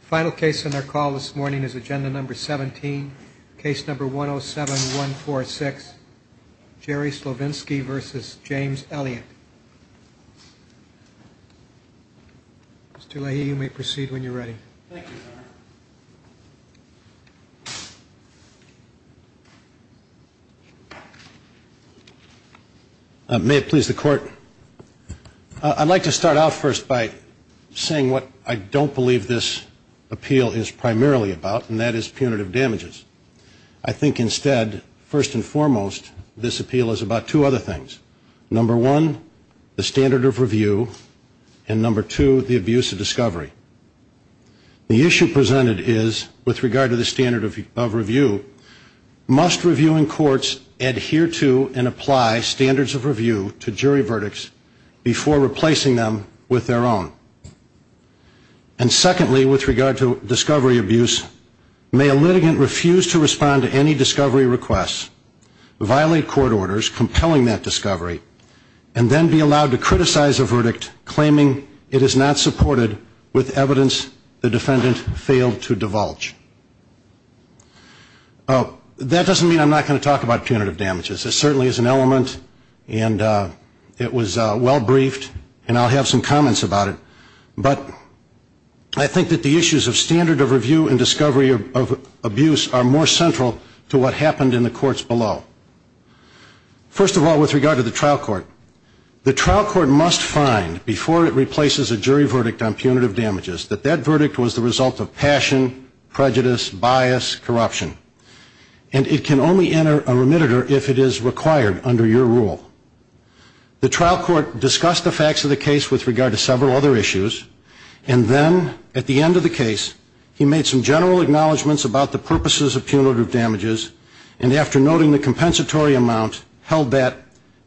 Final case on our call this morning is Agenda No. 17, Case No. 107-146, Jerry Slovinski v. James Elliott. Mr. Leahy, you may proceed when you're ready. Thank you, Governor. May it please the Court. I'd like to start off first by saying what I don't believe this appeal is primarily about, and that is punitive damages. I think instead, first and foremost, this appeal is about two other things. Number one, the standard of review, and number two, the abuse of discovery. The issue presented is, with regard to the standard of review, must reviewing courts adhere to and apply standards of review to jury verdicts before replacing them with their own? And secondly, with regard to discovery abuse, may a litigant refuse to respond to any discovery requests, violate court orders compelling that discovery, and then be allowed to criticize a verdict claiming it is not supported with evidence the defendant failed to divulge? That doesn't mean I'm not going to talk about punitive damages. It certainly is an element, and it was well briefed, and I'll have some comments about it. But I think that the issues of standard of review and discovery of abuse are more central to what happened in the courts below. First of all, with regard to the trial court, the trial court must find, before it replaces a jury verdict on punitive damages, that that verdict was the result of passion, prejudice, bias, corruption. And it can only enter a remitter if it is required under your rule. The trial court discussed the facts of the case with regard to several other issues, and then, at the end of the case, he made some general acknowledgments about the purposes of punitive damages, and after noting the compensatory amount, held that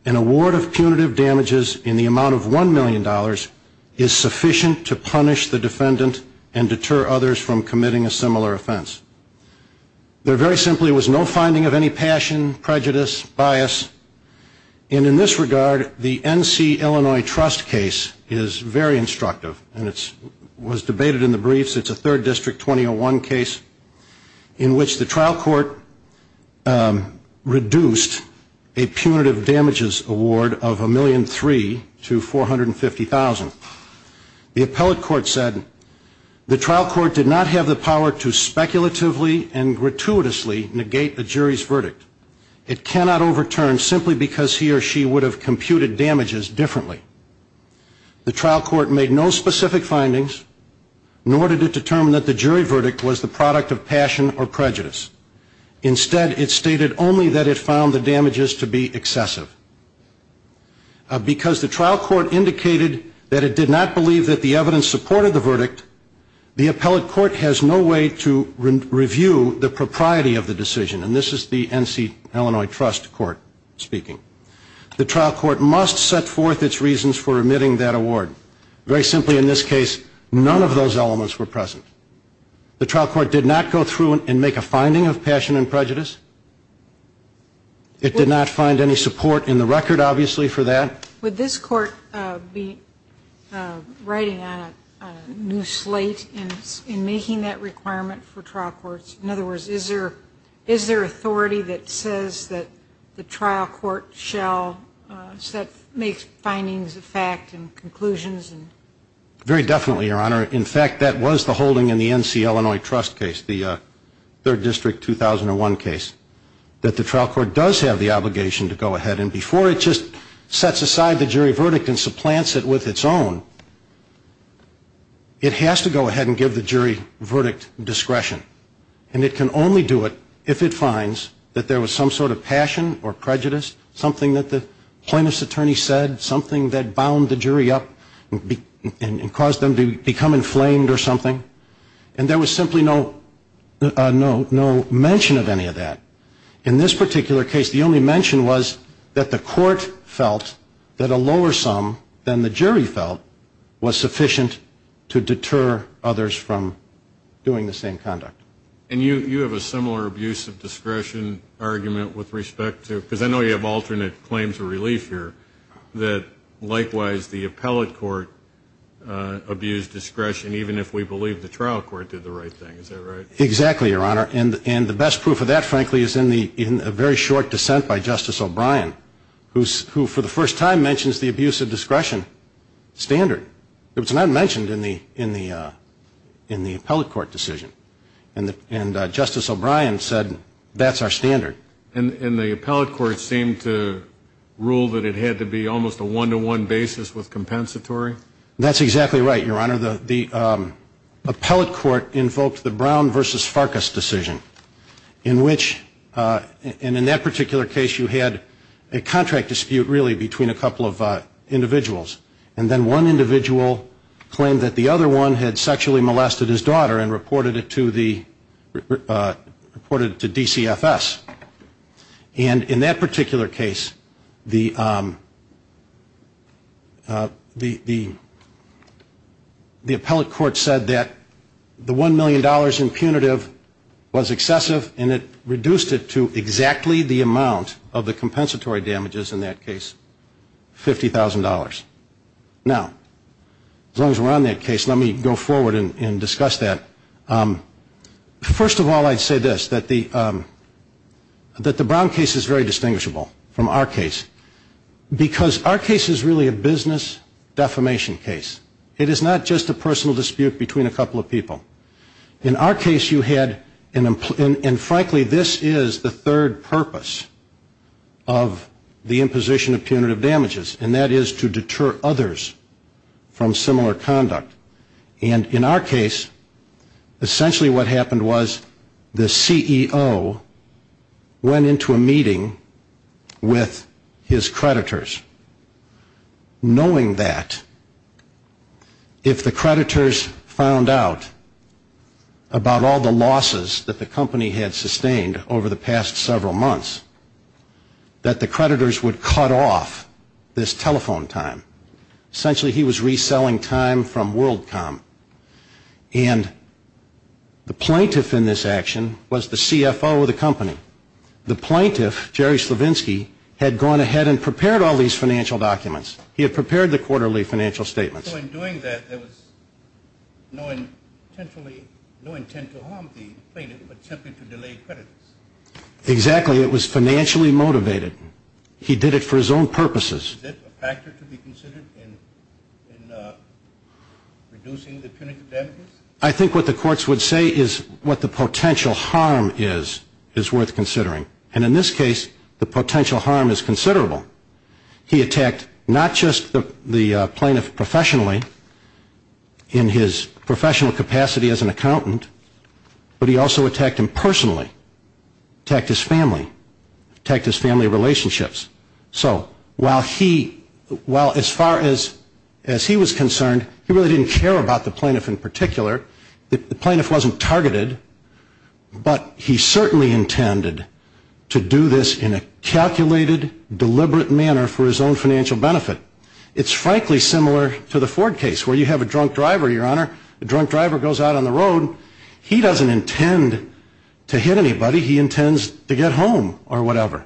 an award of punitive damages in the amount of $1 million is sufficient to punish the defendant and deter others from committing a similar offense. There very simply was no finding of any passion, prejudice, bias. And in this regard, the NC Illinois Trust case is very instructive, and it was debated in the briefs. It's a third district 2001 case in which the trial court reduced a punitive damages award of $1.3 million to $450,000. The appellate court said, the trial court did not have the power to speculatively and gratuitously negate a jury's verdict. It cannot overturn simply because he or she would have computed damages differently. The trial court made no specific findings, nor did it determine that the jury verdict was the product of passion or prejudice. Instead, it stated only that it found the damages to be excessive. Because the trial court indicated that it did not believe that the evidence supported the verdict, the appellate court has no way to review the propriety of the decision. And this is the NC Illinois Trust court speaking. The trial court must set forth its reasons for remitting that award. Very simply, in this case, none of those elements were present. The trial court did not go through and make a finding of passion and prejudice. It did not find any support in the record, obviously, for that. Would this court be writing on a new slate in making that requirement for trial courts? In other words, is there authority that says that the trial court shall make findings of fact and conclusions? Very definitely, Your Honor. In fact, that was the holding in the NC Illinois Trust case, the 3rd District 2001 case, that the trial court does have the obligation to go ahead. And before it just sets aside the jury verdict and supplants it with its own, it has to go ahead and give the jury verdict discretion. And it can only do it if it finds that there was some sort of passion or prejudice, something that the plaintiff's attorney said, something that bound the jury up and caused them to become inflamed or something. And there was simply no mention of any of that. In this particular case, the only mention was that the court felt that a lower sum than the jury felt was sufficient to deter others from doing the same conduct. And you have a similar abuse of discretion argument with respect to, because I know you have alternate claims of relief here, that likewise the appellate court abused discretion even if we believe the trial court did the right thing. Is that right? Exactly, Your Honor. And the best proof of that, frankly, is in a very short dissent by Justice O'Brien, who for the first time mentions the abuse of discretion standard. It was not mentioned in the appellate court decision. And Justice O'Brien said, that's our standard. And the appellate court seemed to rule that it had to be almost a one-to-one basis with compensatory? That's exactly right, Your Honor. Your Honor, the appellate court invoked the Brown v. Farkas decision in which, and in that particular case you had a contract dispute really between a couple of individuals. And then one individual claimed that the other one had sexually molested his daughter and reported it to DCFS. And in that particular case, the appellate court said that the $1 million in punitive was excessive and it reduced it to exactly the amount of the compensatory damages in that case, $50,000. Now, as long as we're on that case, let me go forward and discuss that. First of all, I'd say this, that the Brown case is very distinguishable from our case because our case is really a business defamation case. It is not just a personal dispute between a couple of people. In our case, you had, and frankly, this is the third purpose of the imposition of punitive damages, and that is to deter others from similar conduct. And in our case, essentially what happened was the CEO went into a meeting with his creditors, knowing that if the creditors found out about all the losses that the company had sustained over the past several months, that the creditors would cut off this telephone time. Essentially, he was reselling time from WorldCom. And the plaintiff in this action was the CFO of the company. The plaintiff, Jerry Slavinsky, had gone ahead and prepared all these financial documents. He had prepared the quarterly financial statements. So in doing that, there was no intent to harm the plaintiff, but simply to delay creditors. Exactly. It was financially motivated. He did it for his own purposes. Is it a factor to be considered in reducing the punitive damages? I think what the courts would say is what the potential harm is, is worth considering. And in this case, the potential harm is considerable. He attacked not just the plaintiff professionally in his professional capacity as an accountant, but he also attacked him personally, attacked his family, attacked his family relationships. So while he, as far as he was concerned, he really didn't care about the plaintiff in particular. The plaintiff wasn't targeted, but he certainly intended to do this in a calculated, deliberate manner for his own financial benefit. It's frankly similar to the Ford case where you have a drunk driver, Your Honor, the drunk driver goes out on the road. He doesn't intend to hit anybody. He intends to get home or whatever.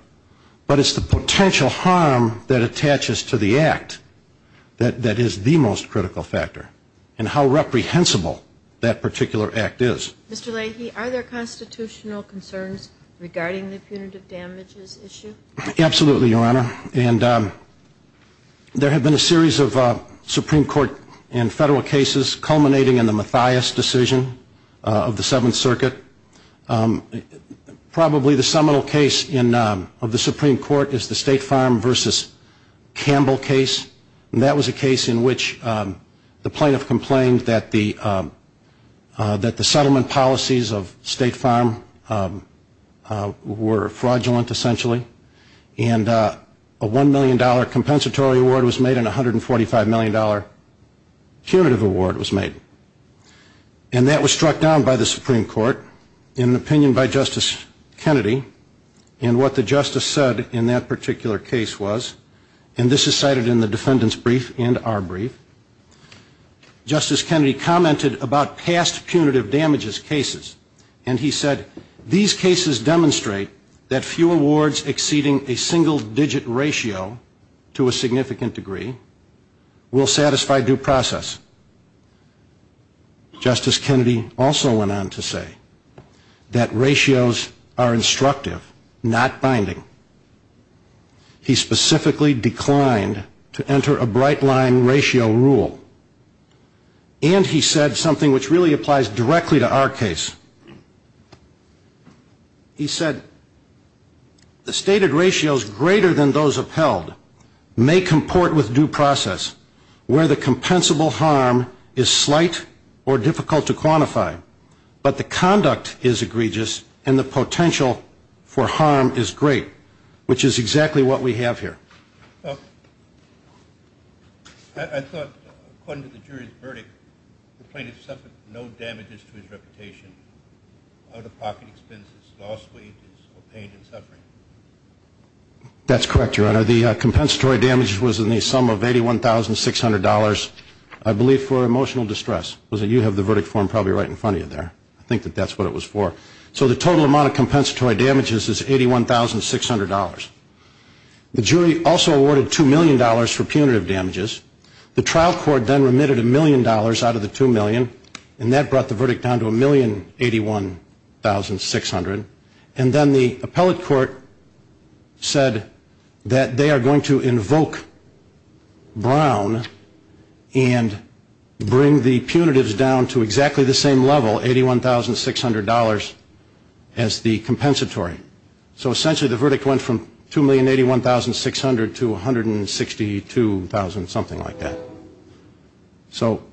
But it's the potential harm that attaches to the act that is the most critical factor and how reprehensible that particular act is. Mr. Leahy, are there constitutional concerns regarding the punitive damages issue? Absolutely, Your Honor. And there have been a series of Supreme Court and federal cases culminating in the Mathias decision of the Seventh Circuit. Probably the seminal case of the Supreme Court is the State Farm v. Campbell case. And that was a case in which the plaintiff complained that the settlement policies of State Farm were fraudulent, essentially. And a $1 million compensatory award was made and a $145 million curative award was made. And that was struck down by the Supreme Court in an opinion by Justice Kennedy and what the justice said in that particular case was, and this is cited in the defendant's brief and our brief. Justice Kennedy commented about past punitive damages cases, and he said, These cases demonstrate that few awards exceeding a single-digit ratio to a significant degree will satisfy due process. Justice Kennedy also went on to say that ratios are instructive, not binding. He specifically declined to enter a bright-line ratio rule. And he said something which really applies directly to our case. He said, The stated ratios greater than those upheld may comport with due process, where the compensable harm is slight or difficult to quantify, but the conduct is egregious and the potential for harm is great, which is exactly what we have here. I thought, according to the jury's verdict, the plaintiff suffered no damages to his reputation. Out-of-pocket expenses, lost wages, or pain and suffering. That's correct, Your Honor. The compensatory damage was in the sum of $81,600, I believe, for emotional distress. You have the verdict form probably right in front of you there. I think that that's what it was for. So the total amount of compensatory damages is $81,600. The jury also awarded $2 million for punitive damages. The trial court then remitted $1 million out of the $2 million, and that brought the verdict down to $1,081,600. And then the appellate court said that they are going to invoke Brown and bring the punitives down to exactly the same level, $81,600, as the compensatory. So essentially the verdict went from $2,081,600 to $162,000, something like that. So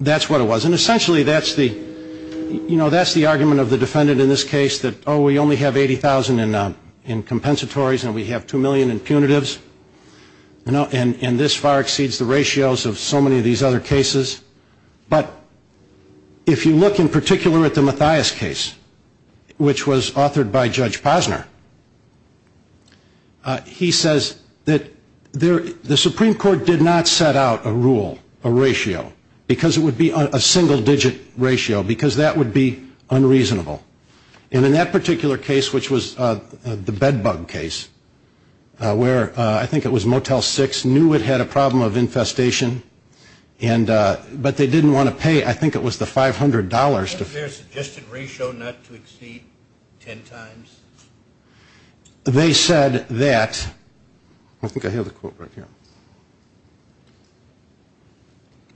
that's what it was. And essentially that's the argument of the defendant in this case, that, oh, we only have $80,000 in compensatories and we have $2 million in punitives, and this far exceeds the ratios of so many of these other cases. But if you look in particular at the Mathias case, which was authored by Judge Posner, he says that the Supreme Court did not set out a rule, a ratio, because it would be a single-digit ratio, because that would be unreasonable. And in that particular case, which was the bed bug case, where I think it was Motel 6, knew it had a problem of infestation, but they didn't want to pay, I think it was the $500. Was there a suggested ratio not to exceed ten times? They said that, I think I have the quote right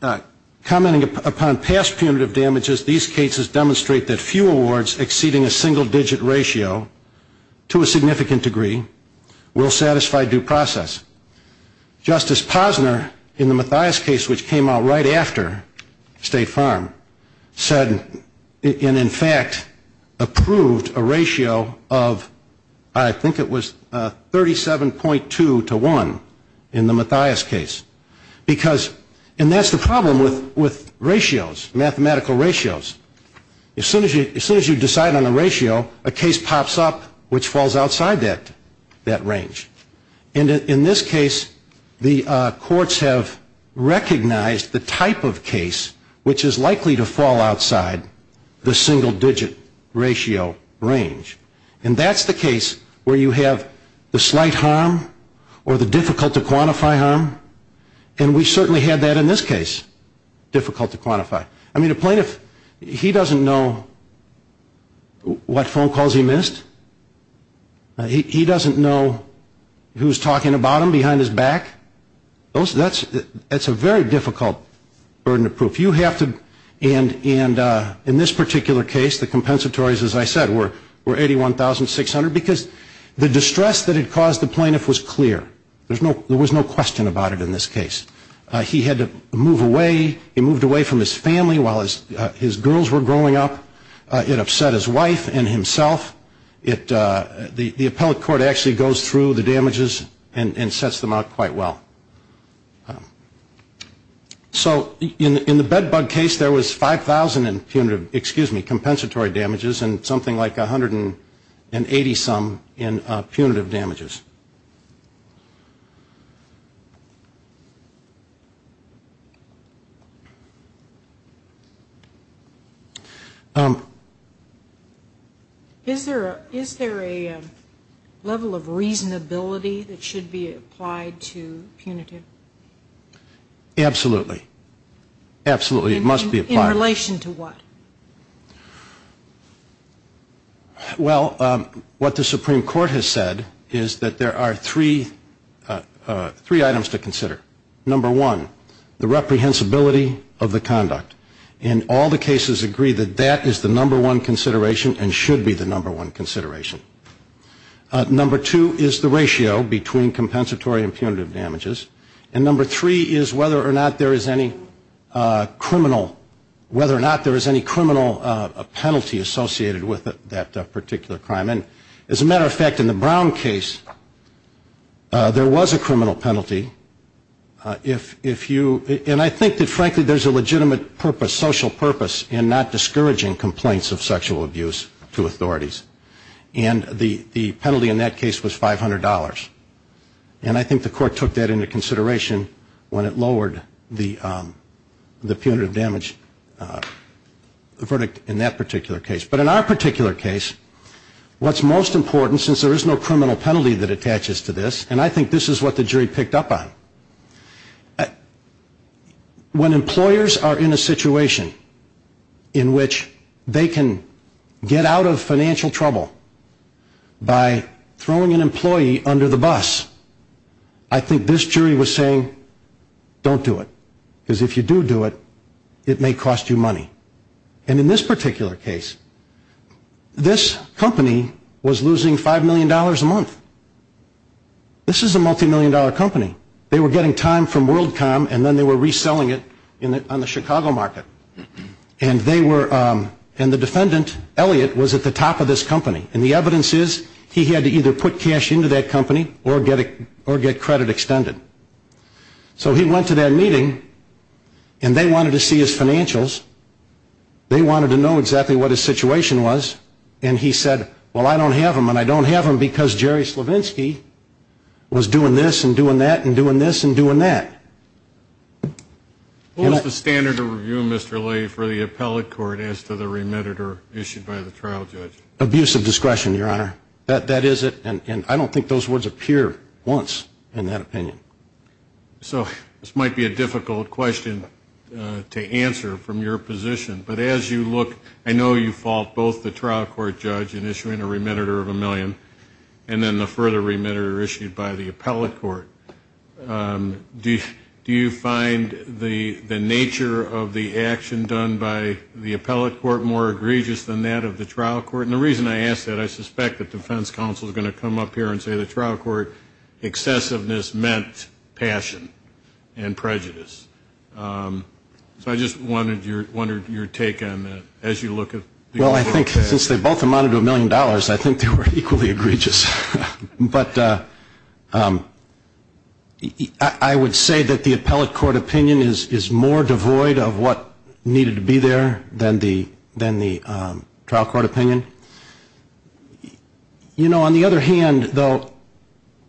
here, commenting upon past punitive damages, these cases demonstrate that few awards exceeding a single-digit ratio to a significant degree will satisfy due process. Justice Posner, in the Mathias case, which came out right after State Farm, said, and in fact approved a ratio of, I think it was 37.2 to 1 in the Mathias case. Because, and that's the problem with ratios, mathematical ratios. As soon as you decide on a ratio, a case pops up which falls outside that range. And in this case, the courts have recognized the type of case which is likely to fall outside the single-digit ratio range. And that's the case where you have the slight harm or the difficult-to-quantify harm, and we certainly had that in this case, difficult-to-quantify. I mean, a plaintiff, he doesn't know what phone calls he missed. He doesn't know who's talking about him behind his back. That's a very difficult burden of proof. You have to, and in this particular case, the compensatories, as I said, were 81,600, because the distress that it caused the plaintiff was clear. There was no question about it in this case. He had to move away. He moved away from his family while his girls were growing up. It upset his wife and himself. The appellate court actually goes through the damages and sets them out quite well. So in the bed bug case, there was 5,000 punitive, excuse me, compensatory damages and something like 180-some in punitive damages. Is there a level of reasonability that should be applied to punitive? Absolutely. Absolutely, it must be applied. In relation to what? Well, what the Supreme Court has said is that there should be a level of reasonability and that there are three items to consider. Number one, the reprehensibility of the conduct. And all the cases agree that that is the number one consideration and should be the number one consideration. Number two is the ratio between compensatory and punitive damages. And number three is whether or not there is any criminal penalty associated with that particular crime. And as a matter of fact, in the Brown case, there was a criminal penalty. And I think that, frankly, there's a legitimate purpose, social purpose, in not discouraging complaints of sexual abuse to authorities. And the penalty in that case was $500. And I think the court took that into consideration when it lowered the punitive damage verdict in that particular case. But in our particular case, what's most important, since there is no criminal penalty that attaches to this, and I think this is what the jury picked up on, when employers are in a situation in which they can get out of financial trouble by throwing an employee under the bus, I think this jury was saying, don't do it. Because if you do do it, it may cost you money. And in this particular case, this company was losing $5 million a month. This is a multi-million dollar company. They were getting time from WorldCom and then they were reselling it on the Chicago market. And they were, and the defendant, Elliott, was at the top of this company. And the evidence is he had to either put cash into that company or get credit extended. So he went to that meeting and they wanted to see his financials. They wanted to know exactly what his situation was. And he said, well, I don't have them and I don't have them because Jerry Slavinsky was doing this and doing that and doing this and doing that. What was the standard of review, Mr. Lee, for the appellate court as to the remitted or issued by the trial judge? Abusive discretion, Your Honor. That is it. And I don't think those words appear once in that opinion. So this might be a difficult question to answer from your position. But as you look, I know you fault both the trial court judge in issuing a remitter of a million and then the further remitter issued by the appellate court. Do you find the nature of the action done by the appellate court more egregious than that of the trial court? And the reason I ask that, I suspect that defense counsel is going to come up here and say the trial court excessiveness meant passion and prejudice. So I just wondered your take on that as you look at the court. Well, I think since they both amounted to a million dollars, I think they were equally egregious. But I would say that the appellate court opinion is more devoid of what needed to be there than the trial court opinion. You know, on the other hand, though,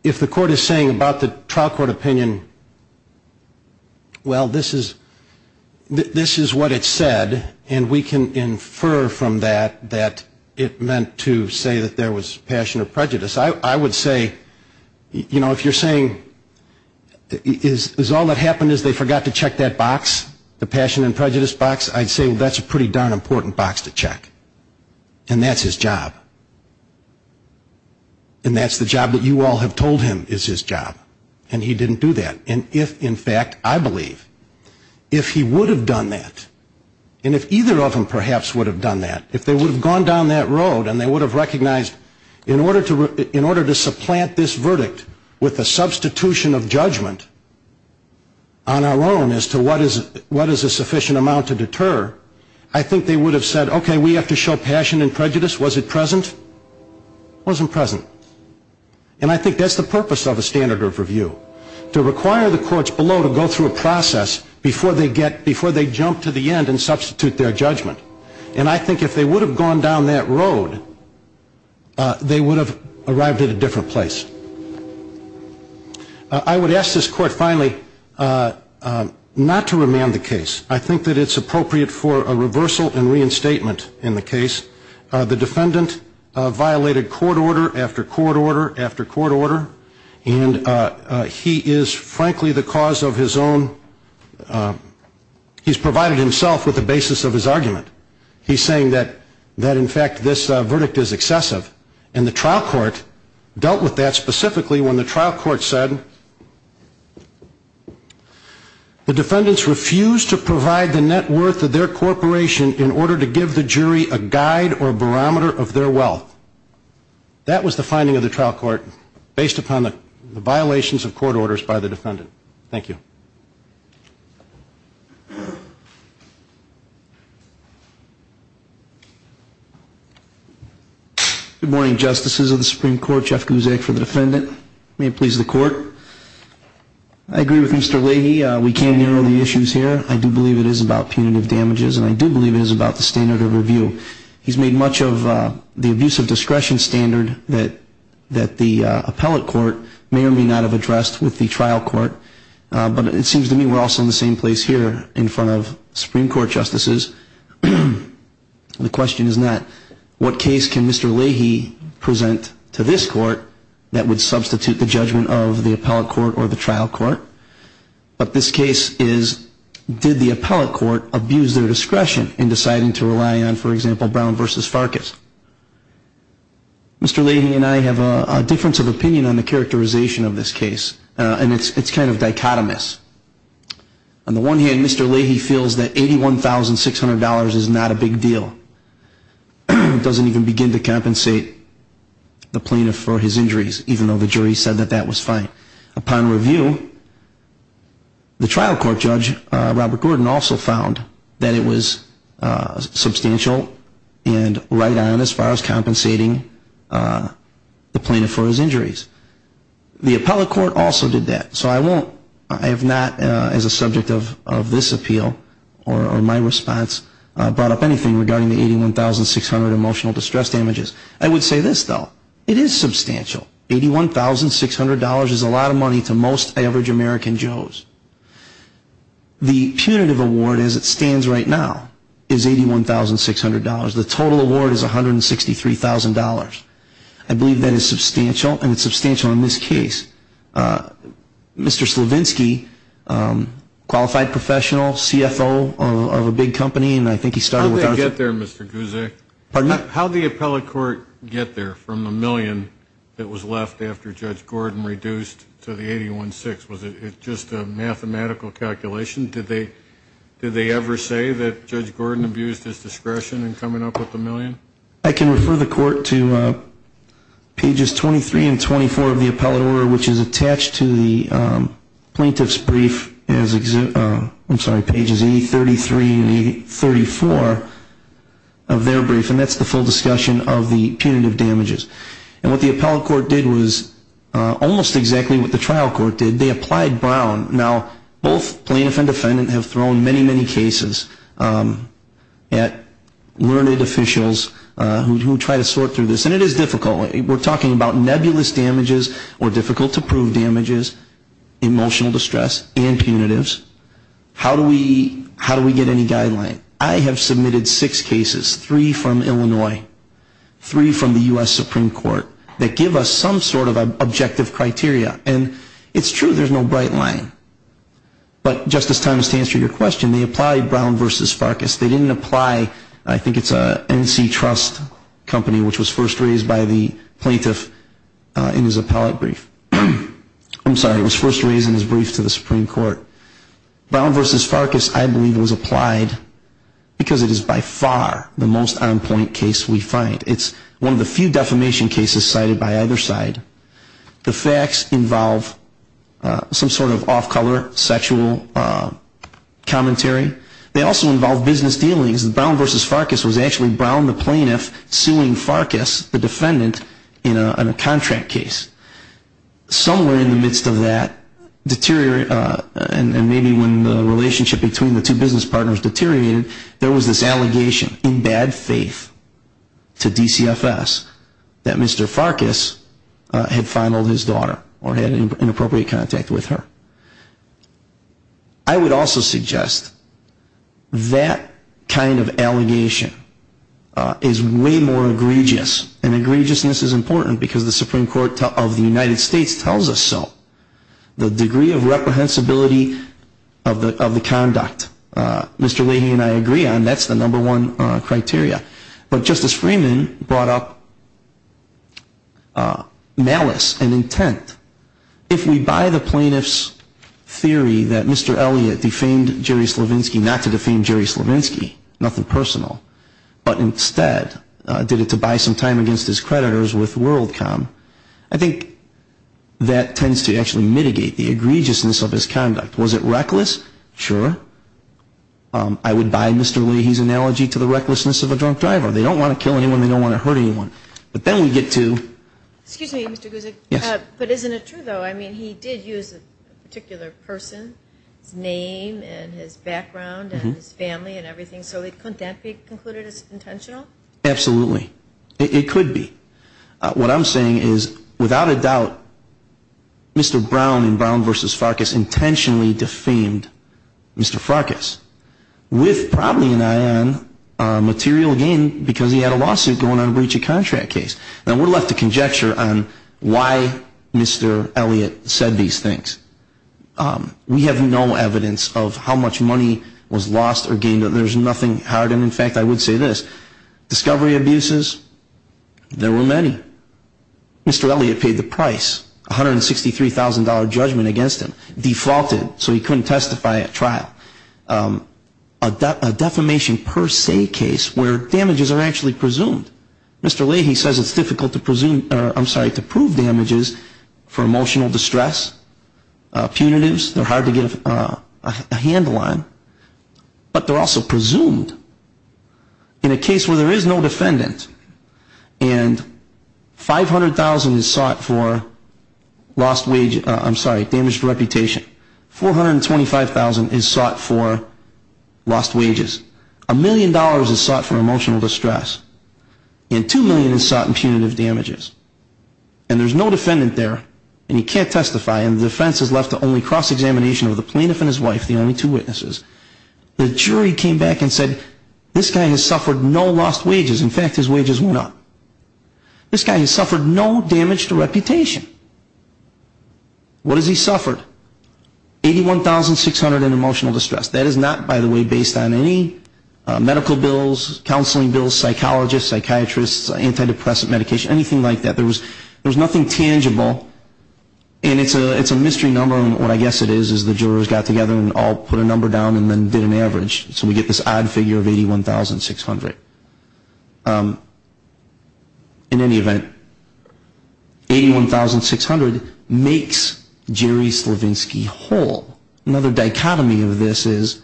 if the court is saying about the trial court opinion, well, this is what it said, and we can infer from that that it meant to say that there was passion or prejudice. I would say, you know, if you're saying is all that happened is they forgot to check that box, the passion and prejudice box, I'd say that's a pretty darn important box to check. And that's his job. And that's the job that you all have told him is his job. And he didn't do that. And if, in fact, I believe, if he would have done that, and if either of them perhaps would have done that, if they would have gone down that road and they would have recognized in order to supplant this verdict with a substitution of judgment on our own as to what is a sufficient amount to deter, I think they would have said, okay, we have to show passion and prejudice. Was it present? It wasn't present. And I think that's the purpose of a standard of review, to require the courts below to go through a process before they jump to the end and substitute their judgment. And I think if they would have gone down that road, they would have arrived at a different place. I would ask this court, finally, not to remand the case. I think that it's appropriate for a reversal and reinstatement in the case. The defendant violated court order after court order after court order. And he is, frankly, the cause of his own, he's provided himself with the basis of his argument. He's saying that, in fact, this verdict is excessive. And the trial court dealt with that specifically when the trial court said, the defendants refused to provide the net worth of their corporation in order to give the jury a guide or barometer of their wealth. That was the finding of the trial court based upon the violations of court orders by the defendant. Thank you. Good morning, Justices of the Supreme Court. Jeff Guzik for the defendant. May it please the court. I agree with Mr. Leahy. We can narrow the issues here. I do believe it is about punitive damages, and I do believe it is about the standard of review. He's made much of the abuse of discretion standard that the appellate court may or may not have addressed with the trial court. But it seems to me we're also in the same place here in front of Supreme Court Justices. The question is not, what case can Mr. Leahy present to this court that would substitute the judgment of the appellate court or the trial court? But this case is, did the appellate court abuse their discretion in deciding to rely on, for example, Brown v. Farkas? Mr. Leahy and I have a difference of opinion on the characterization of this case, and it's kind of dichotomous. On the one hand, Mr. Leahy feels that $81,600 is not a big deal. It doesn't even begin to compensate the plaintiff for his injuries, even though the jury said that that was fine. Upon review, the trial court judge, Robert Gordon, also found that it was substantial and right on as far as compensating the plaintiff for his injuries. The appellate court also did that, so I have not, as a subject of this appeal or my response, brought up anything regarding the $81,600 emotional distress damages. I would say this, though. It is substantial. $81,600 is a lot of money to most average American Joes. The punitive award, as it stands right now, is $81,600. The total award is $163,000. I believe that is substantial, and it's substantial in this case. Mr. Slavinsky, qualified professional, CFO of a big company, and I think he started with our group. How did it get there, Mr. Guzek? Pardon me? How did the appellate court get there from the million that was left after Judge Gordon reduced to the $81,600? Was it just a mathematical calculation? Did they ever say that Judge Gordon abused his discretion in coming up with the million? I can refer the court to Pages 23 and 24 of the appellate order, which is attached to the plaintiff's brief, I'm sorry, Pages 83 and 34 of their brief, and that's the full discussion of the punitive damages. And what the appellate court did was almost exactly what the trial court did. They applied Brown. Now, both plaintiff and defendant have thrown many, many cases at learned officials who try to sort through this, and it is difficult. We're talking about nebulous damages or difficult-to-prove damages, emotional distress, and punitives. How do we get any guideline? I have submitted six cases, three from Illinois, three from the U.S. Supreme Court, that give us some sort of objective criteria. And it's true, there's no bright line. But, Justice Thomas, to answer your question, they applied Brown v. Farkas. They didn't apply, I think it's NC Trust Company, which was first raised by the plaintiff in his appellate brief. I'm sorry, it was first raised in his brief to the Supreme Court. Brown v. Farkas, I believe, was applied because it is by far the most on-point case we find. It's one of the few defamation cases cited by either side. The facts involve some sort of off-color sexual commentary. They also involve business dealings. Brown v. Farkas was actually Brown the plaintiff suing Farkas, the defendant, in a contract case. Somewhere in the midst of that, and maybe when the relationship between the two business partners deteriorated, there was this allegation in bad faith to DCFS that Mr. Farkas had fondled his daughter or had inappropriate contact with her. I would also suggest that kind of allegation is way more egregious. And egregiousness is important because the Supreme Court of the United States tells us so. The degree of reprehensibility of the conduct. Mr. Leahy and I agree on that's the number one criteria. But Justice Freeman brought up malice and intent. If we buy the plaintiff's theory that Mr. Elliott defamed Jerry Slavinsky not to defame Jerry Slavinsky, nothing personal, but instead did it to buy some time against his creditors with WorldCom, I think that tends to actually mitigate the egregiousness of his conduct. Was it reckless? Sure. I would buy Mr. Leahy's analogy to the recklessness of a drunk driver. They don't want to kill anyone. They don't want to hurt anyone. But then we get to. Excuse me, Mr. Gusick. Yes. But isn't it true, though? I mean, he did use a particular person's name and his background and his family and everything. So couldn't that be concluded as intentional? Absolutely. It could be. What I'm saying is, without a doubt, Mr. Brown in Brown v. Farkas intentionally defamed Mr. Farkas with probably an eye on material gain because he had a lawsuit going on a breach of contract case. Now, we're left to conjecture on why Mr. Elliott said these things. We have no evidence of how much money was lost or gained. There's nothing hard. In fact, I would say this. Discovery abuses, there were many. Mr. Elliott paid the price, $163,000 judgment against him. Defaulted so he couldn't testify at trial. A defamation per se case where damages are actually presumed. Mr. Leahy says it's difficult to prove damages for emotional distress, punitives. They're hard to give a handle on. But they're also presumed in a case where there is no defendant and $500,000 is sought for lost wage, I'm sorry, damaged reputation. $425,000 is sought for lost wages. A million dollars is sought for emotional distress. And $2 million is sought in punitive damages. And there's no defendant there and he can't testify and the defense has left the only cross-examination of the plaintiff and his wife, the only two witnesses. The jury came back and said this guy has suffered no lost wages. In fact, his wages went up. This guy has suffered no damage to reputation. What has he suffered? $81,600 in emotional distress. That is not, by the way, based on any medical bills, counseling bills, psychologists, psychiatrists, antidepressant medication, anything like that. There's nothing tangible. And it's a mystery number and what I guess it is is the jurors got together and all put a number down and then did an average. So we get this odd figure of $81,600. In any event, $81,600 makes Jerry Slavinsky whole. Another dichotomy of this is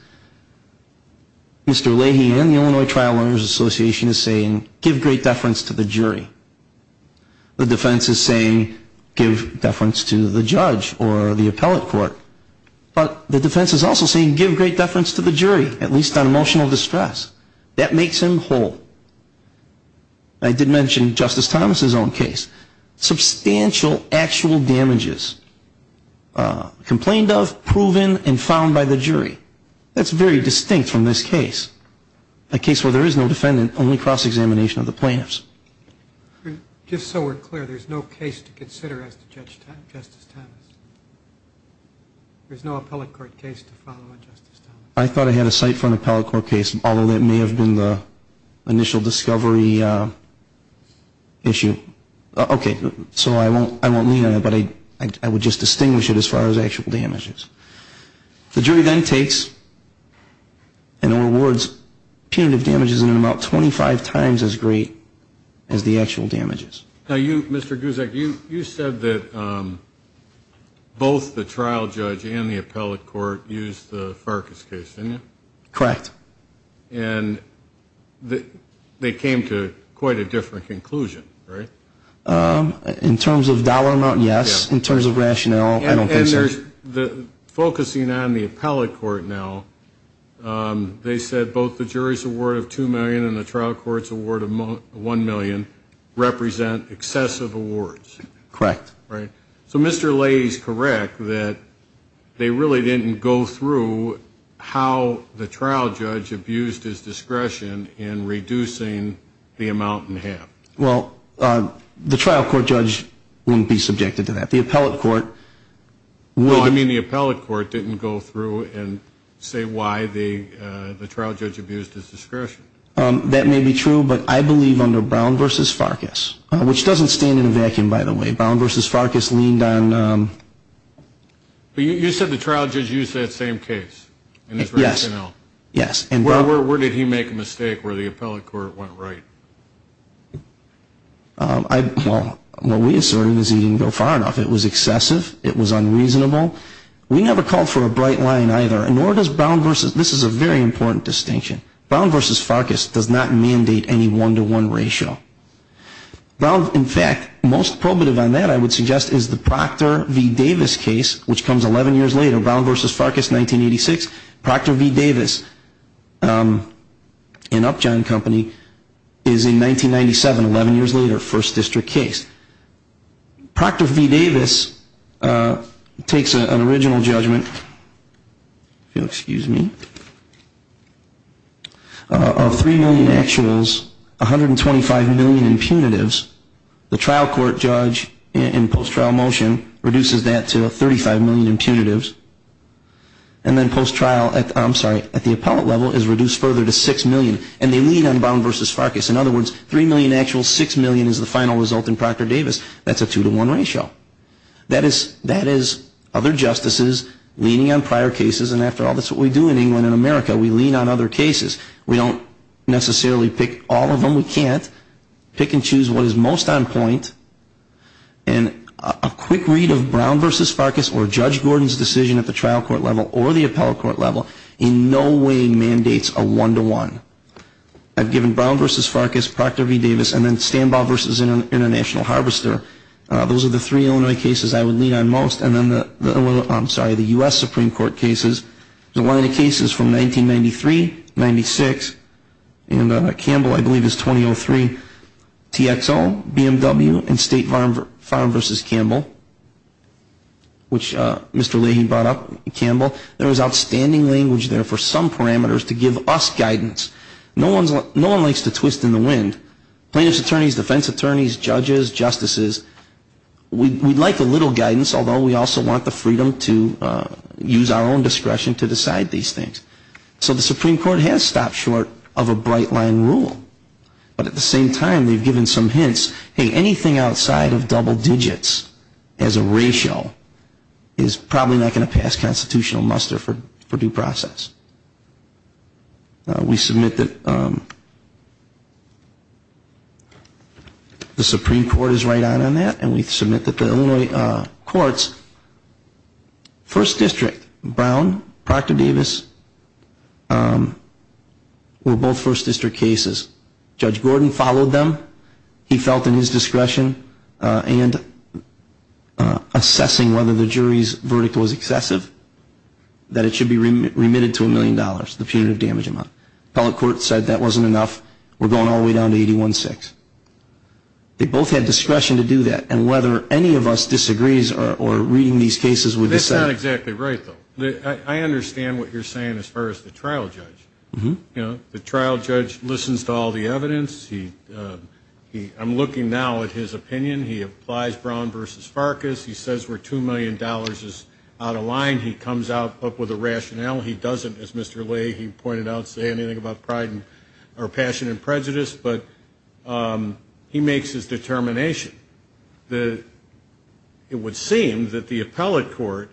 Mr. Leahy and the Illinois Trial Owners Association is saying give great deference to the jury. The defense is saying give deference to the judge or the appellate court. But the defense is also saying give great deference to the jury, at least on emotional distress. That makes him whole. I did mention Justice Thomas' own case. Substantial actual damages complained of, proven, and found by the jury. That's very distinct from this case, a case where there is no defendant, only cross-examination of the plaintiffs. Just so we're clear, there's no case to consider as to Justice Thomas? There's no appellate court case to follow on Justice Thomas? I thought I had a cite for an appellate court case, although that may have been the initial discovery issue. Okay, so I won't lean on it, but I would just distinguish it as far as actual damages. The jury then takes and awards punitive damages in an amount 25 times as great as the actual damages. Now, you, Mr. Guzek, you said that both the trial judge and the appellate court used the Farkas case, didn't you? Correct. And they came to quite a different conclusion, right? In terms of dollar amount, yes. In terms of rationale, I don't think so. Focusing on the appellate court now, they said both the jury's award of $2 million and the trial court's award of $1 million represent excessive awards. Correct. So Mr. Leahy is correct that they really didn't go through how the trial judge abused his discretion in reducing the amount in half. Well, the trial court judge wouldn't be subjected to that. The appellate court would. Well, I mean the appellate court didn't go through and say why the trial judge abused his discretion. That may be true, but I believe under Brown v. Farkas, which doesn't stand in a vacuum, by the way. Brown v. Farkas leaned on. You said the trial judge used that same case in his rationale. Yes. Where did he make a mistake where the appellate court went right? Well, what we asserted was he didn't go far enough. It was excessive. It was unreasonable. We never called for a bright line either, nor does Brown v. This is a very important distinction. Brown v. Farkas does not mandate any one-to-one ratio. In fact, most probative on that I would suggest is the Proctor v. Davis case, which comes 11 years later, Brown v. Farkas, 1986. Proctor v. Davis in Upjohn Company is in 1997, 11 years later, first district case. Proctor v. Davis takes an original judgment, if you'll excuse me, of three million actuals, 125 million in punitives. The trial court judge in post-trial motion reduces that to 35 million in punitives. And then post-trial, I'm sorry, at the appellate level is reduced further to 6 million, and they lean on Brown v. Farkas. In other words, 3 million actuals, 6 million is the final result in Proctor v. Davis. That's a two-to-one ratio. That is other justices leaning on prior cases, and after all, that's what we do in England and America. We lean on other cases. We don't necessarily pick all of them. We can't. Pick and choose what is most on point. And a quick read of Brown v. Farkas or Judge Gordon's decision at the trial court level or the appellate court level in no way mandates a one-to-one. I've given Brown v. Farkas, Proctor v. Davis, and then Stanbaugh v. International Harvester. Those are the three Illinois cases I would lean on most, and then the U.S. Supreme Court cases. One of the cases from 1993, 1996, and Campbell, I believe, is 2003, TXO, BMW, and State Farm v. Campbell, which Mr. Leahy brought up, Campbell. There was outstanding language there for some parameters to give us guidance. No one likes to twist in the wind. Plaintiffs' attorneys, defense attorneys, judges, justices, we'd like a little guidance, although we also want the freedom to use our own discretion to decide these things. So the Supreme Court has stopped short of a bright-line rule. But at the same time, they've given some hints, hey, anything outside of double digits as a ratio is probably not going to pass constitutional muster for due process. We submit that the Supreme Court is right on that, and we submit that the Illinois courts, 1st District, Brown, Proctor v. Davis, were both 1st District cases. Judge Gordon followed them. He felt in his discretion and assessing whether the jury's verdict was excessive, that it should be remitted to $1 million, the punitive damage amount. The appellate court said that wasn't enough. We're going all the way down to 81-6. They both had discretion to do that. And whether any of us disagrees or reading these cases would decide. That's not exactly right, though. I understand what you're saying as far as the trial judge. The trial judge listens to all the evidence. I'm looking now at his opinion. He applies Brown v. Farkas. He says we're $2 million out of line. He comes up with a rationale. He doesn't, as Mr. Lee, he pointed out, say anything about pride or passion and prejudice. But he makes his determination. It would seem that the appellate court,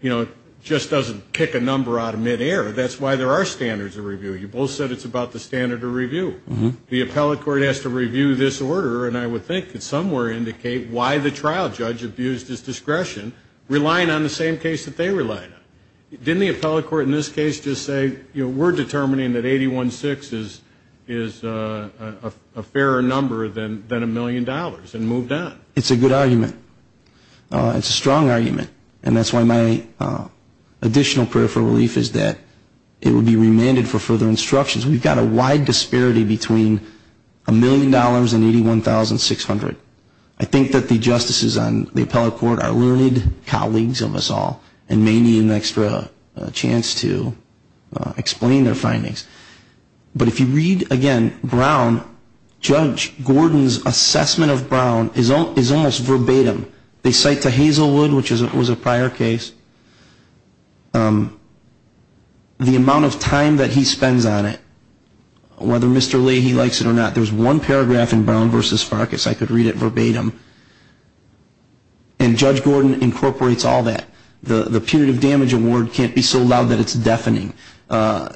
you know, just doesn't pick a number out of midair. That's why there are standards of review. You both said it's about the standard of review. The appellate court has to review this order, and I would think that somewhere indicate why the trial judge abused his discretion, relying on the same case that they relied on. Didn't the appellate court in this case just say, you know, we're determining that 81-6 is a fairer number than a million dollars and moved on? It's a good argument. It's a strong argument. And that's why my additional prayer for relief is that it would be remanded for further instructions. We've got a wide disparity between a million dollars and $81,600. I think that the justices on the appellate court are learned colleagues of us all and may need an extra chance to explain their findings. But if you read, again, Brown, Judge Gordon's assessment of Brown is almost verbatim. They cite to Hazelwood, which was a prior case, the amount of time that he spends on it, whether Mr. Lee, he likes it or not. There's one paragraph in Brown v. Farkas I could read it verbatim. And Judge Gordon incorporates all that. The punitive damage award can't be so loud that it's deafening. A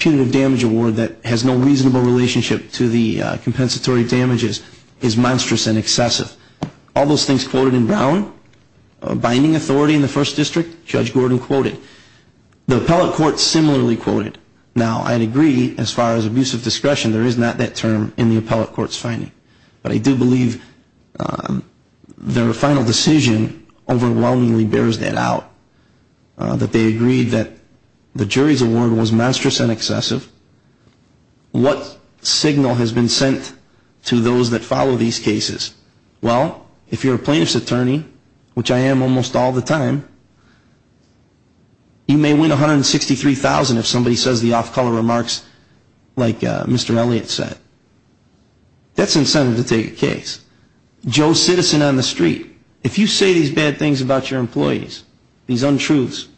punitive damage award that has no reasonable relationship to the compensatory damages is monstrous and excessive. All those things quoted in Brown, binding authority in the first district, Judge Gordon quoted. The appellate court similarly quoted. Now, I'd agree, as far as abusive discretion, there is not that term in the appellate court's finding. But I do believe their final decision overwhelmingly bears that out. That they agreed that the jury's award was monstrous and excessive. What signal has been sent to those that follow these cases? Well, if you're a plaintiff's attorney, which I am almost all the time, you may win $163,000 if somebody says the off-color remarks like Mr. Elliot said. That's incentive to take a case. Joe Citizen on the street. If you say these bad things about your employees, these untruths,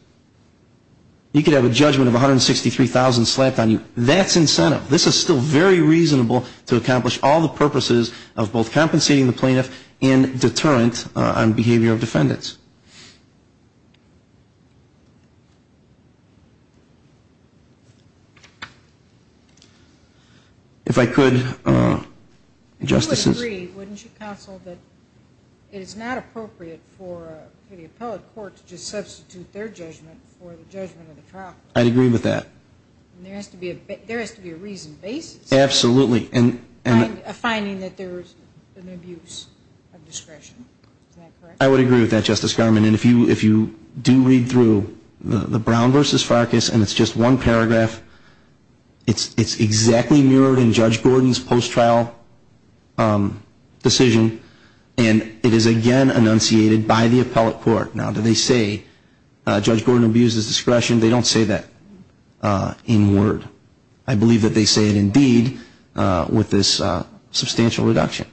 you could have a judgment of $163,000 slapped on you. That's incentive. This is still very reasonable to accomplish all the purposes of both compensating the plaintiff and deterrent on behavior of defendants. If I could, Justices. I would agree, wouldn't you, Counsel, that it is not appropriate for the appellate court to just substitute their judgment for the judgment of the trial court. I'd agree with that. There has to be a reason basis. Absolutely. A finding that there was an abuse of discretion. Is that correct? I would agree with that, Justice Garment. And if you do read through the Brown v. Farkas, and it's just one paragraph, it's exactly mirrored in Judge Gordon's post-trial decision. And it is, again, enunciated by the appellate court. Now, do they say Judge Gordon abused his discretion? They don't say that in word. I believe that they say it in deed with this substantial reduction.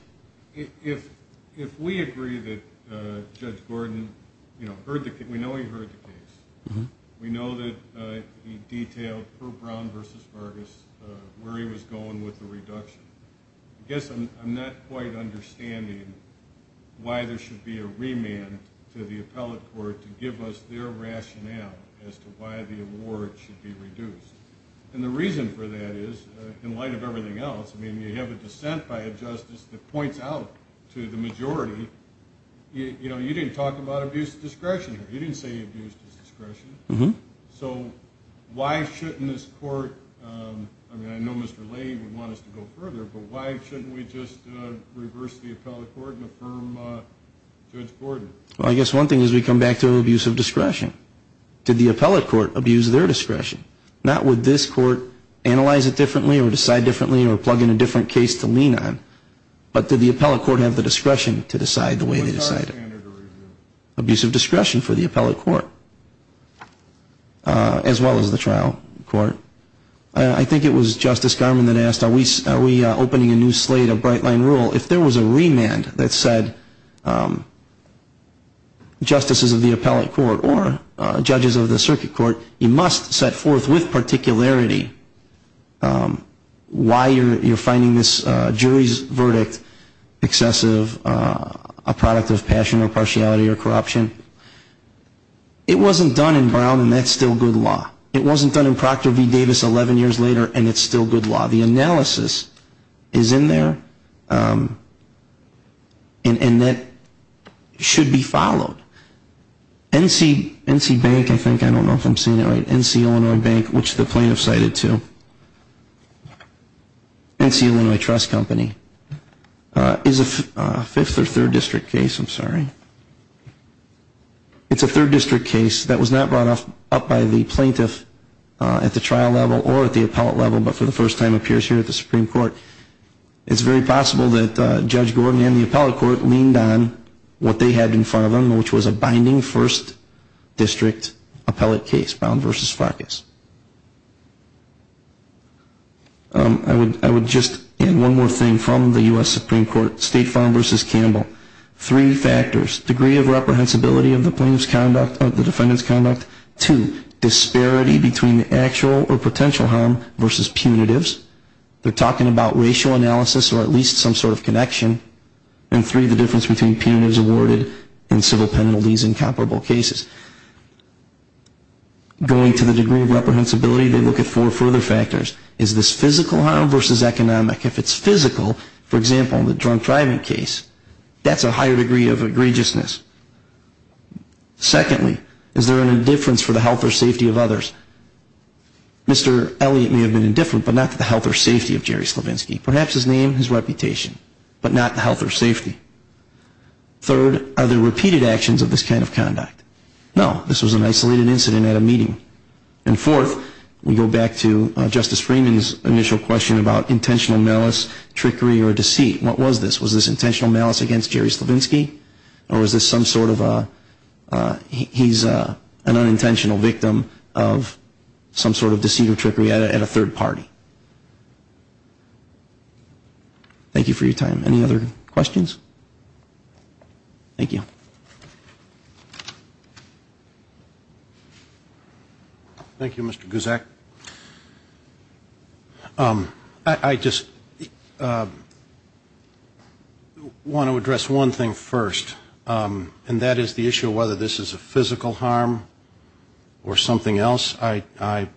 If we agree that Judge Gordon, you know, we know he heard the case. We know that he detailed, per Brown v. Farkas, where he was going with the reduction. I guess I'm not quite understanding why there should be a remand to the appellate court to give us their rationale as to why the award should be reduced. And the reason for that is, in light of everything else, I mean, you have a dissent by a justice that points out to the majority, you know, you didn't talk about abuse of discretion here. You didn't say he abused his discretion. So why shouldn't this court, I mean, I know Mr. Lane would want us to go further, but why shouldn't we just reverse the appellate court and affirm Judge Gordon? Well, I guess one thing is we come back to abuse of discretion. Did the appellate court abuse their discretion? Not would this court analyze it differently or decide differently or plug in a different case to lean on. But did the appellate court have the discretion to decide the way they decided it? Abuse of discretion for the appellate court, as well as the trial court. I think it was Justice Garmon that asked, are we opening a new slate of bright-line rule? If there was a remand that said, justices of the appellate court or judges of the circuit court, you must set forth with particularity why you're finding this jury's verdict excessive, a product of passion or partiality or corruption. It wasn't done in Brown, and that's still good law. It wasn't done in Proctor v. Davis 11 years later, and it's still good law. The analysis is in there, and that should be followed. NC Bank, I think, I don't know if I'm saying it right, NC Illinois Bank, which the plaintiff cited to, NC Illinois Trust Company, is a 5th or 3rd district case. I'm sorry. It's a 3rd district case that was not brought up by the plaintiff at the trial level or at the appellate level, but for the first time appears here at the Supreme Court. It's very possible that Judge Gordon and the appellate court leaned on what they had in front of them, which was a binding 1st district appellate case, Brown v. Farkas. I would just add one more thing from the U.S. Supreme Court, State Farm v. Campbell. Three factors. Degree of reprehensibility of the defendant's conduct. Two, disparity between the actual or potential harm versus punitives. They're talking about racial analysis or at least some sort of connection. And three, the difference between penalties awarded and civil penalties in comparable cases. Going to the degree of reprehensibility, they look at four further factors. Is this physical harm versus economic? If it's physical, for example, in the drunk driving case, that's a higher degree of egregiousness. Secondly, is there an indifference for the health or safety of others? Mr. Elliott may have been indifferent, but not to the health or safety of Jerry Slavinsky. Perhaps his name, his reputation, but not the health or safety. Third, are there repeated actions of this kind of conduct? No. This was an isolated incident at a meeting. And fourth, we go back to Justice Freeman's initial question about intentional malice, trickery, or deceit. What was this? Was this intentional malice against Jerry Slavinsky? Or was this some sort of a he's an unintentional victim of some sort of deceit or trickery at a third party? Thank you for your time. Any other questions? Thank you. Thank you, Mr. Gusak. I just want to address one thing first, and that is the issue of whether this is a physical harm or something else. I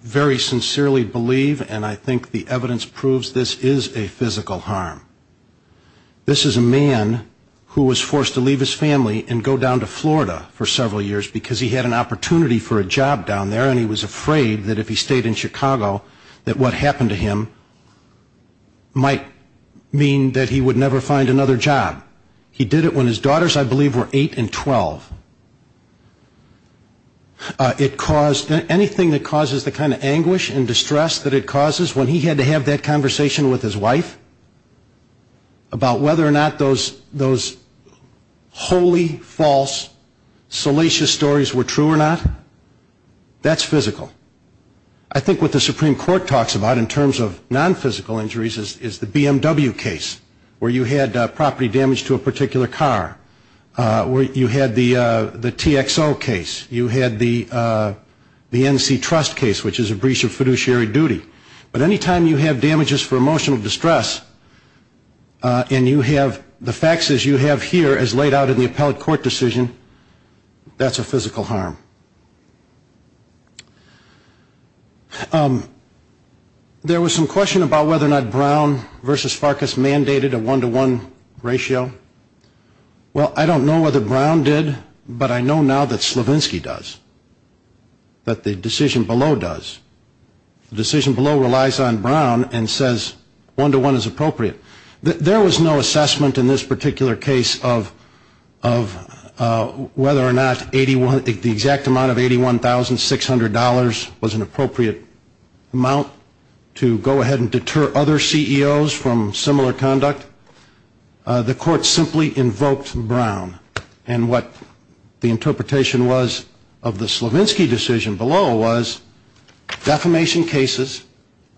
very sincerely believe and I think the evidence proves this is a physical harm. This is a man who was forced to leave his family and go down to Florida for several years because he had an opportunity for a job down there and he was afraid that if he stayed in Chicago that what happened to him might mean that he would never find another job. He did it when his daughters, I believe, were eight and 12. It caused anything that causes the kind of anguish and distress that it causes when he had to have that conversation with his wife about whether or not those holy, false, salacious stories were true or not. That's physical. I think what the Supreme Court talks about in terms of nonphysical injuries is the BMW case where you had property damage to a particular car. You had the TXO case. You had the NC Trust case, which is a breach of fiduciary duty. But any time you have damages for emotional distress and you have the faxes you have here as laid out in the appellate court decision, that's a physical harm. There was some question about whether or not Brown v. Farkas mandated a one-to-one ratio. Well, I don't know whether Brown did, but I know now that Slavinsky does, that the decision below does. The decision below relies on Brown and says one-to-one is appropriate. There was no assessment in this particular case of whether or not the exact amount of $81,600 was an appropriate amount to go ahead and deter other CEOs from similar conduct. The court simply invoked Brown. And what the interpretation was of the Slavinsky decision below was defamation cases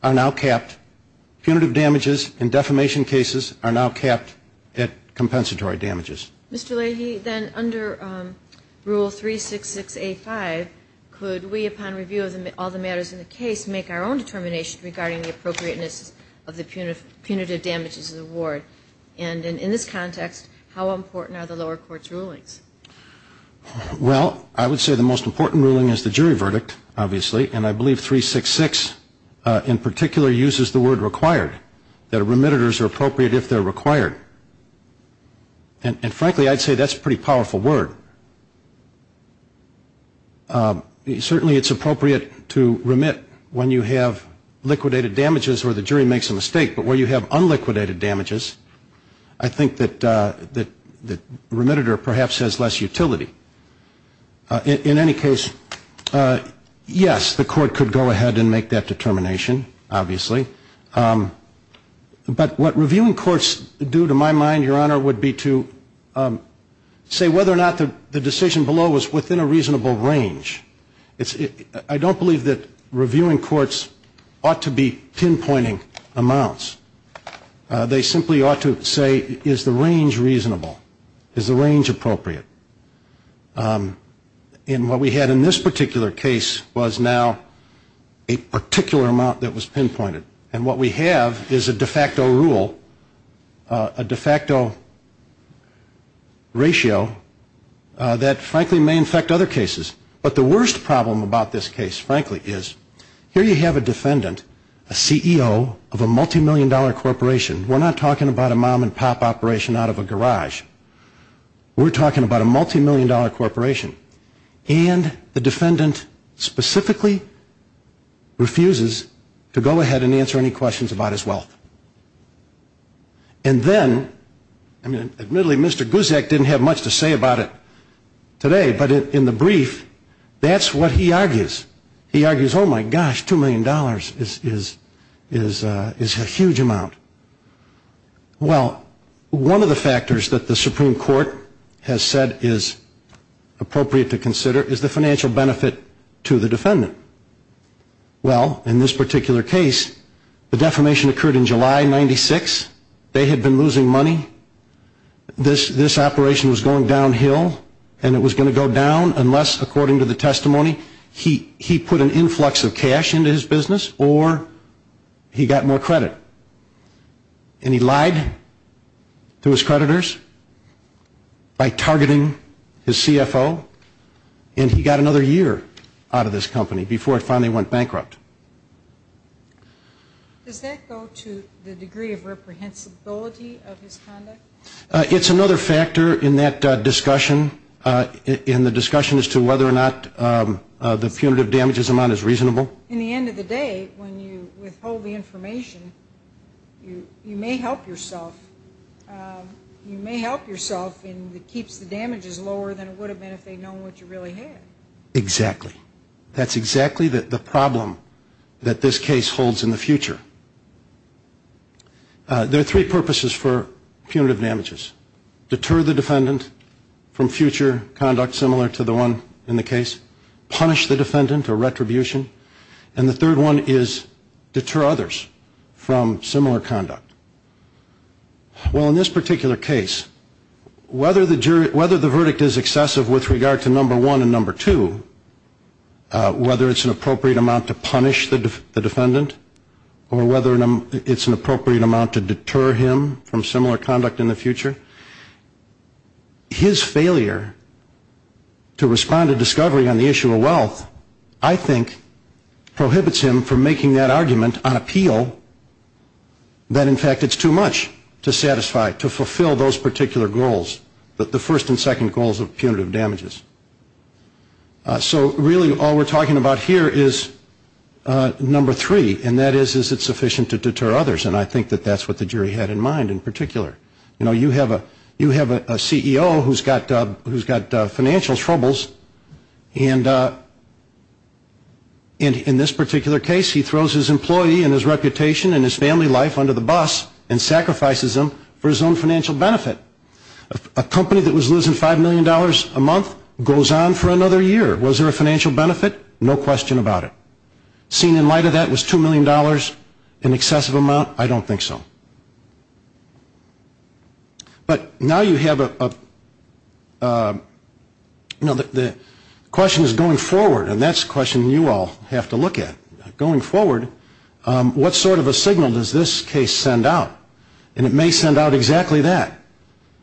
are now capped, punitive damages in defamation cases are now capped at compensatory damages. Mr. Leahy, then under Rule 366A5, could we, upon review of all the matters in the case, make our own determination regarding the appropriateness of the punitive damages to the ward? And in this context, how important are the lower court's rulings? Well, I would say the most important ruling is the jury verdict, obviously. And I believe 366 in particular uses the word required, that remitters are appropriate if they're required. And frankly, I'd say that's a pretty powerful word. Certainly it's appropriate to remit when you have liquidated damages or the jury makes a mistake. But where you have unliquidated damages, I think that the remitter perhaps has less utility. In any case, yes, the court could go ahead and make that determination, obviously. But what reviewing courts do, to my mind, Your Honor, would be to say whether or not the decision below was within a reasonable range. I don't believe that reviewing courts ought to be pinpointing amounts. They simply ought to say, is the range reasonable? Is the range appropriate? And what we had in this particular case was now a particular amount that was pinpointed. And what we have is a de facto rule, a de facto ratio that frankly may infect other cases. But the worst problem about this case, frankly, is here you have a defendant, a CEO of a multimillion dollar corporation. We're not talking about a mom and pop operation out of a garage. We're talking about a multimillion dollar corporation. And the defendant specifically refuses to go ahead and answer any questions about his wealth. And then, I mean, admittedly, Mr. Gusak didn't have much to say about it today, but in the brief, that's what he argues. He argues, oh, my gosh, $2 million is a huge amount. Well, one of the factors that the Supreme Court has said is appropriate to consider is the financial benefit to the defendant. Well, in this particular case, the defamation occurred in July of 1996. They had been losing money. This operation was going downhill, and it was going to go down unless, according to the testimony, he put an influx of cash into his business or he got more credit. And he lied to his creditors by targeting his CFO, and he got another year out of this company before it finally went bankrupt. Does that go to the degree of reprehensibility of his conduct? It's another factor in that discussion, in the discussion as to whether or not the punitive damages amount is reasonable. In the end of the day, when you withhold the information, you may help yourself. You may help yourself, and it keeps the damages lower than it would have been if they'd known what you really had. Exactly. That's exactly the problem that this case holds in the future. There are three purposes for punitive damages. Deter the defendant from future conduct similar to the one in the case, punish the defendant or retribution, and the third one is deter others from similar conduct. Well, in this particular case, whether the verdict is excessive with regard to number one and number two, whether it's an appropriate amount to punish the defendant, or whether it's an appropriate amount to deter him from similar conduct in the future, his failure to respond to discovery on the issue of wealth, I think, prohibits him from making that argument on appeal that, in fact, it's too much to satisfy, to fulfill those particular goals, the first and second goals of punitive damages. So really all we're talking about here is number three, and that is, is it sufficient to deter others? And I think that that's what the jury had in mind in particular. You know, you have a CEO who's got financial troubles, and in this particular case, he throws his employee and his reputation and his family life under the bus and sacrifices them for his own financial benefit. A company that was losing $5 million a month goes on for another year. Was there a financial benefit? No question about it. Seen in light of that, was $2 million an excessive amount? I don't think so. But now you have a, you know, the question is going forward, and that's a question you all have to look at. Going forward, what sort of a signal does this case send out? And it may send out exactly that,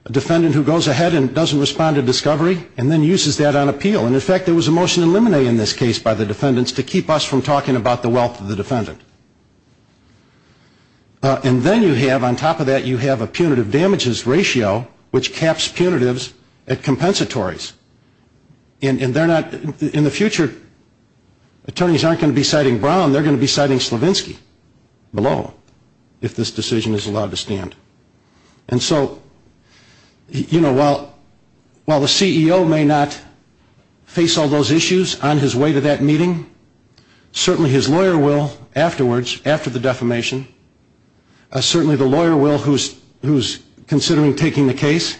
a defendant who goes ahead and doesn't respond to discovery and then uses that on appeal. And, in fact, there was a motion in limine in this case by the defendants to keep us from talking about the wealth of the defendant. And then you have, on top of that, you have a punitive damages ratio, which caps punitives at compensatories. And they're not, in the future, attorneys aren't going to be citing Brown, they're going to be citing Slavinsky below if this decision is allowed to stand. And so, you know, while the CEO may not face all those issues on his way to that meeting, certainly his lawyer will afterwards, after the defamation, certainly the lawyer will who's considering taking the case.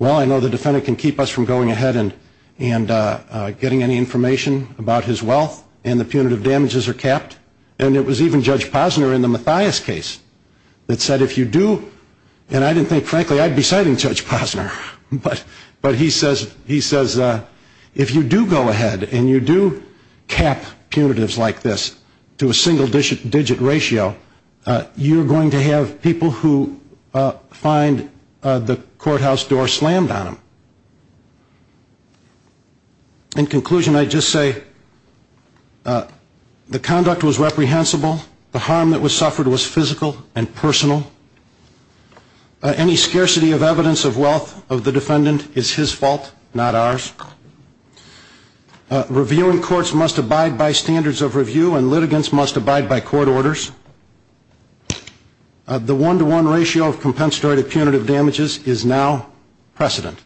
Well, I know the defendant can keep us from going ahead and getting any information about his wealth and the punitive damages are capped. And it was even Judge Posner in the Mathias case that said if you do, and I didn't think, frankly, I'd be citing Judge Posner, but he says if you do go ahead and you do cap punitives like this to a single digit ratio, you're going to have people who find the courthouse door slammed on them. In conclusion, I'd just say the conduct was reprehensible. The harm that was suffered was physical and personal. Any scarcity of evidence of wealth of the defendant is his fault, not ours. Reviewing courts must abide by standards of review and litigants must abide by court orders. The one-to-one ratio of compensatory to punitive damages is now precedent.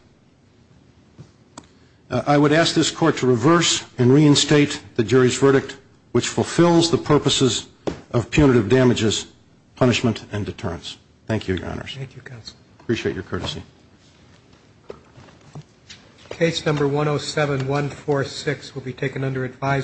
I would ask this court to reverse and reinstate the jury's verdict, which fulfills the purposes of punitive damages, punishment, and deterrence. Thank you, Your Honors. Thank you, Counsel. Appreciate your courtesy. Case number 107-146 will be taken under advisory.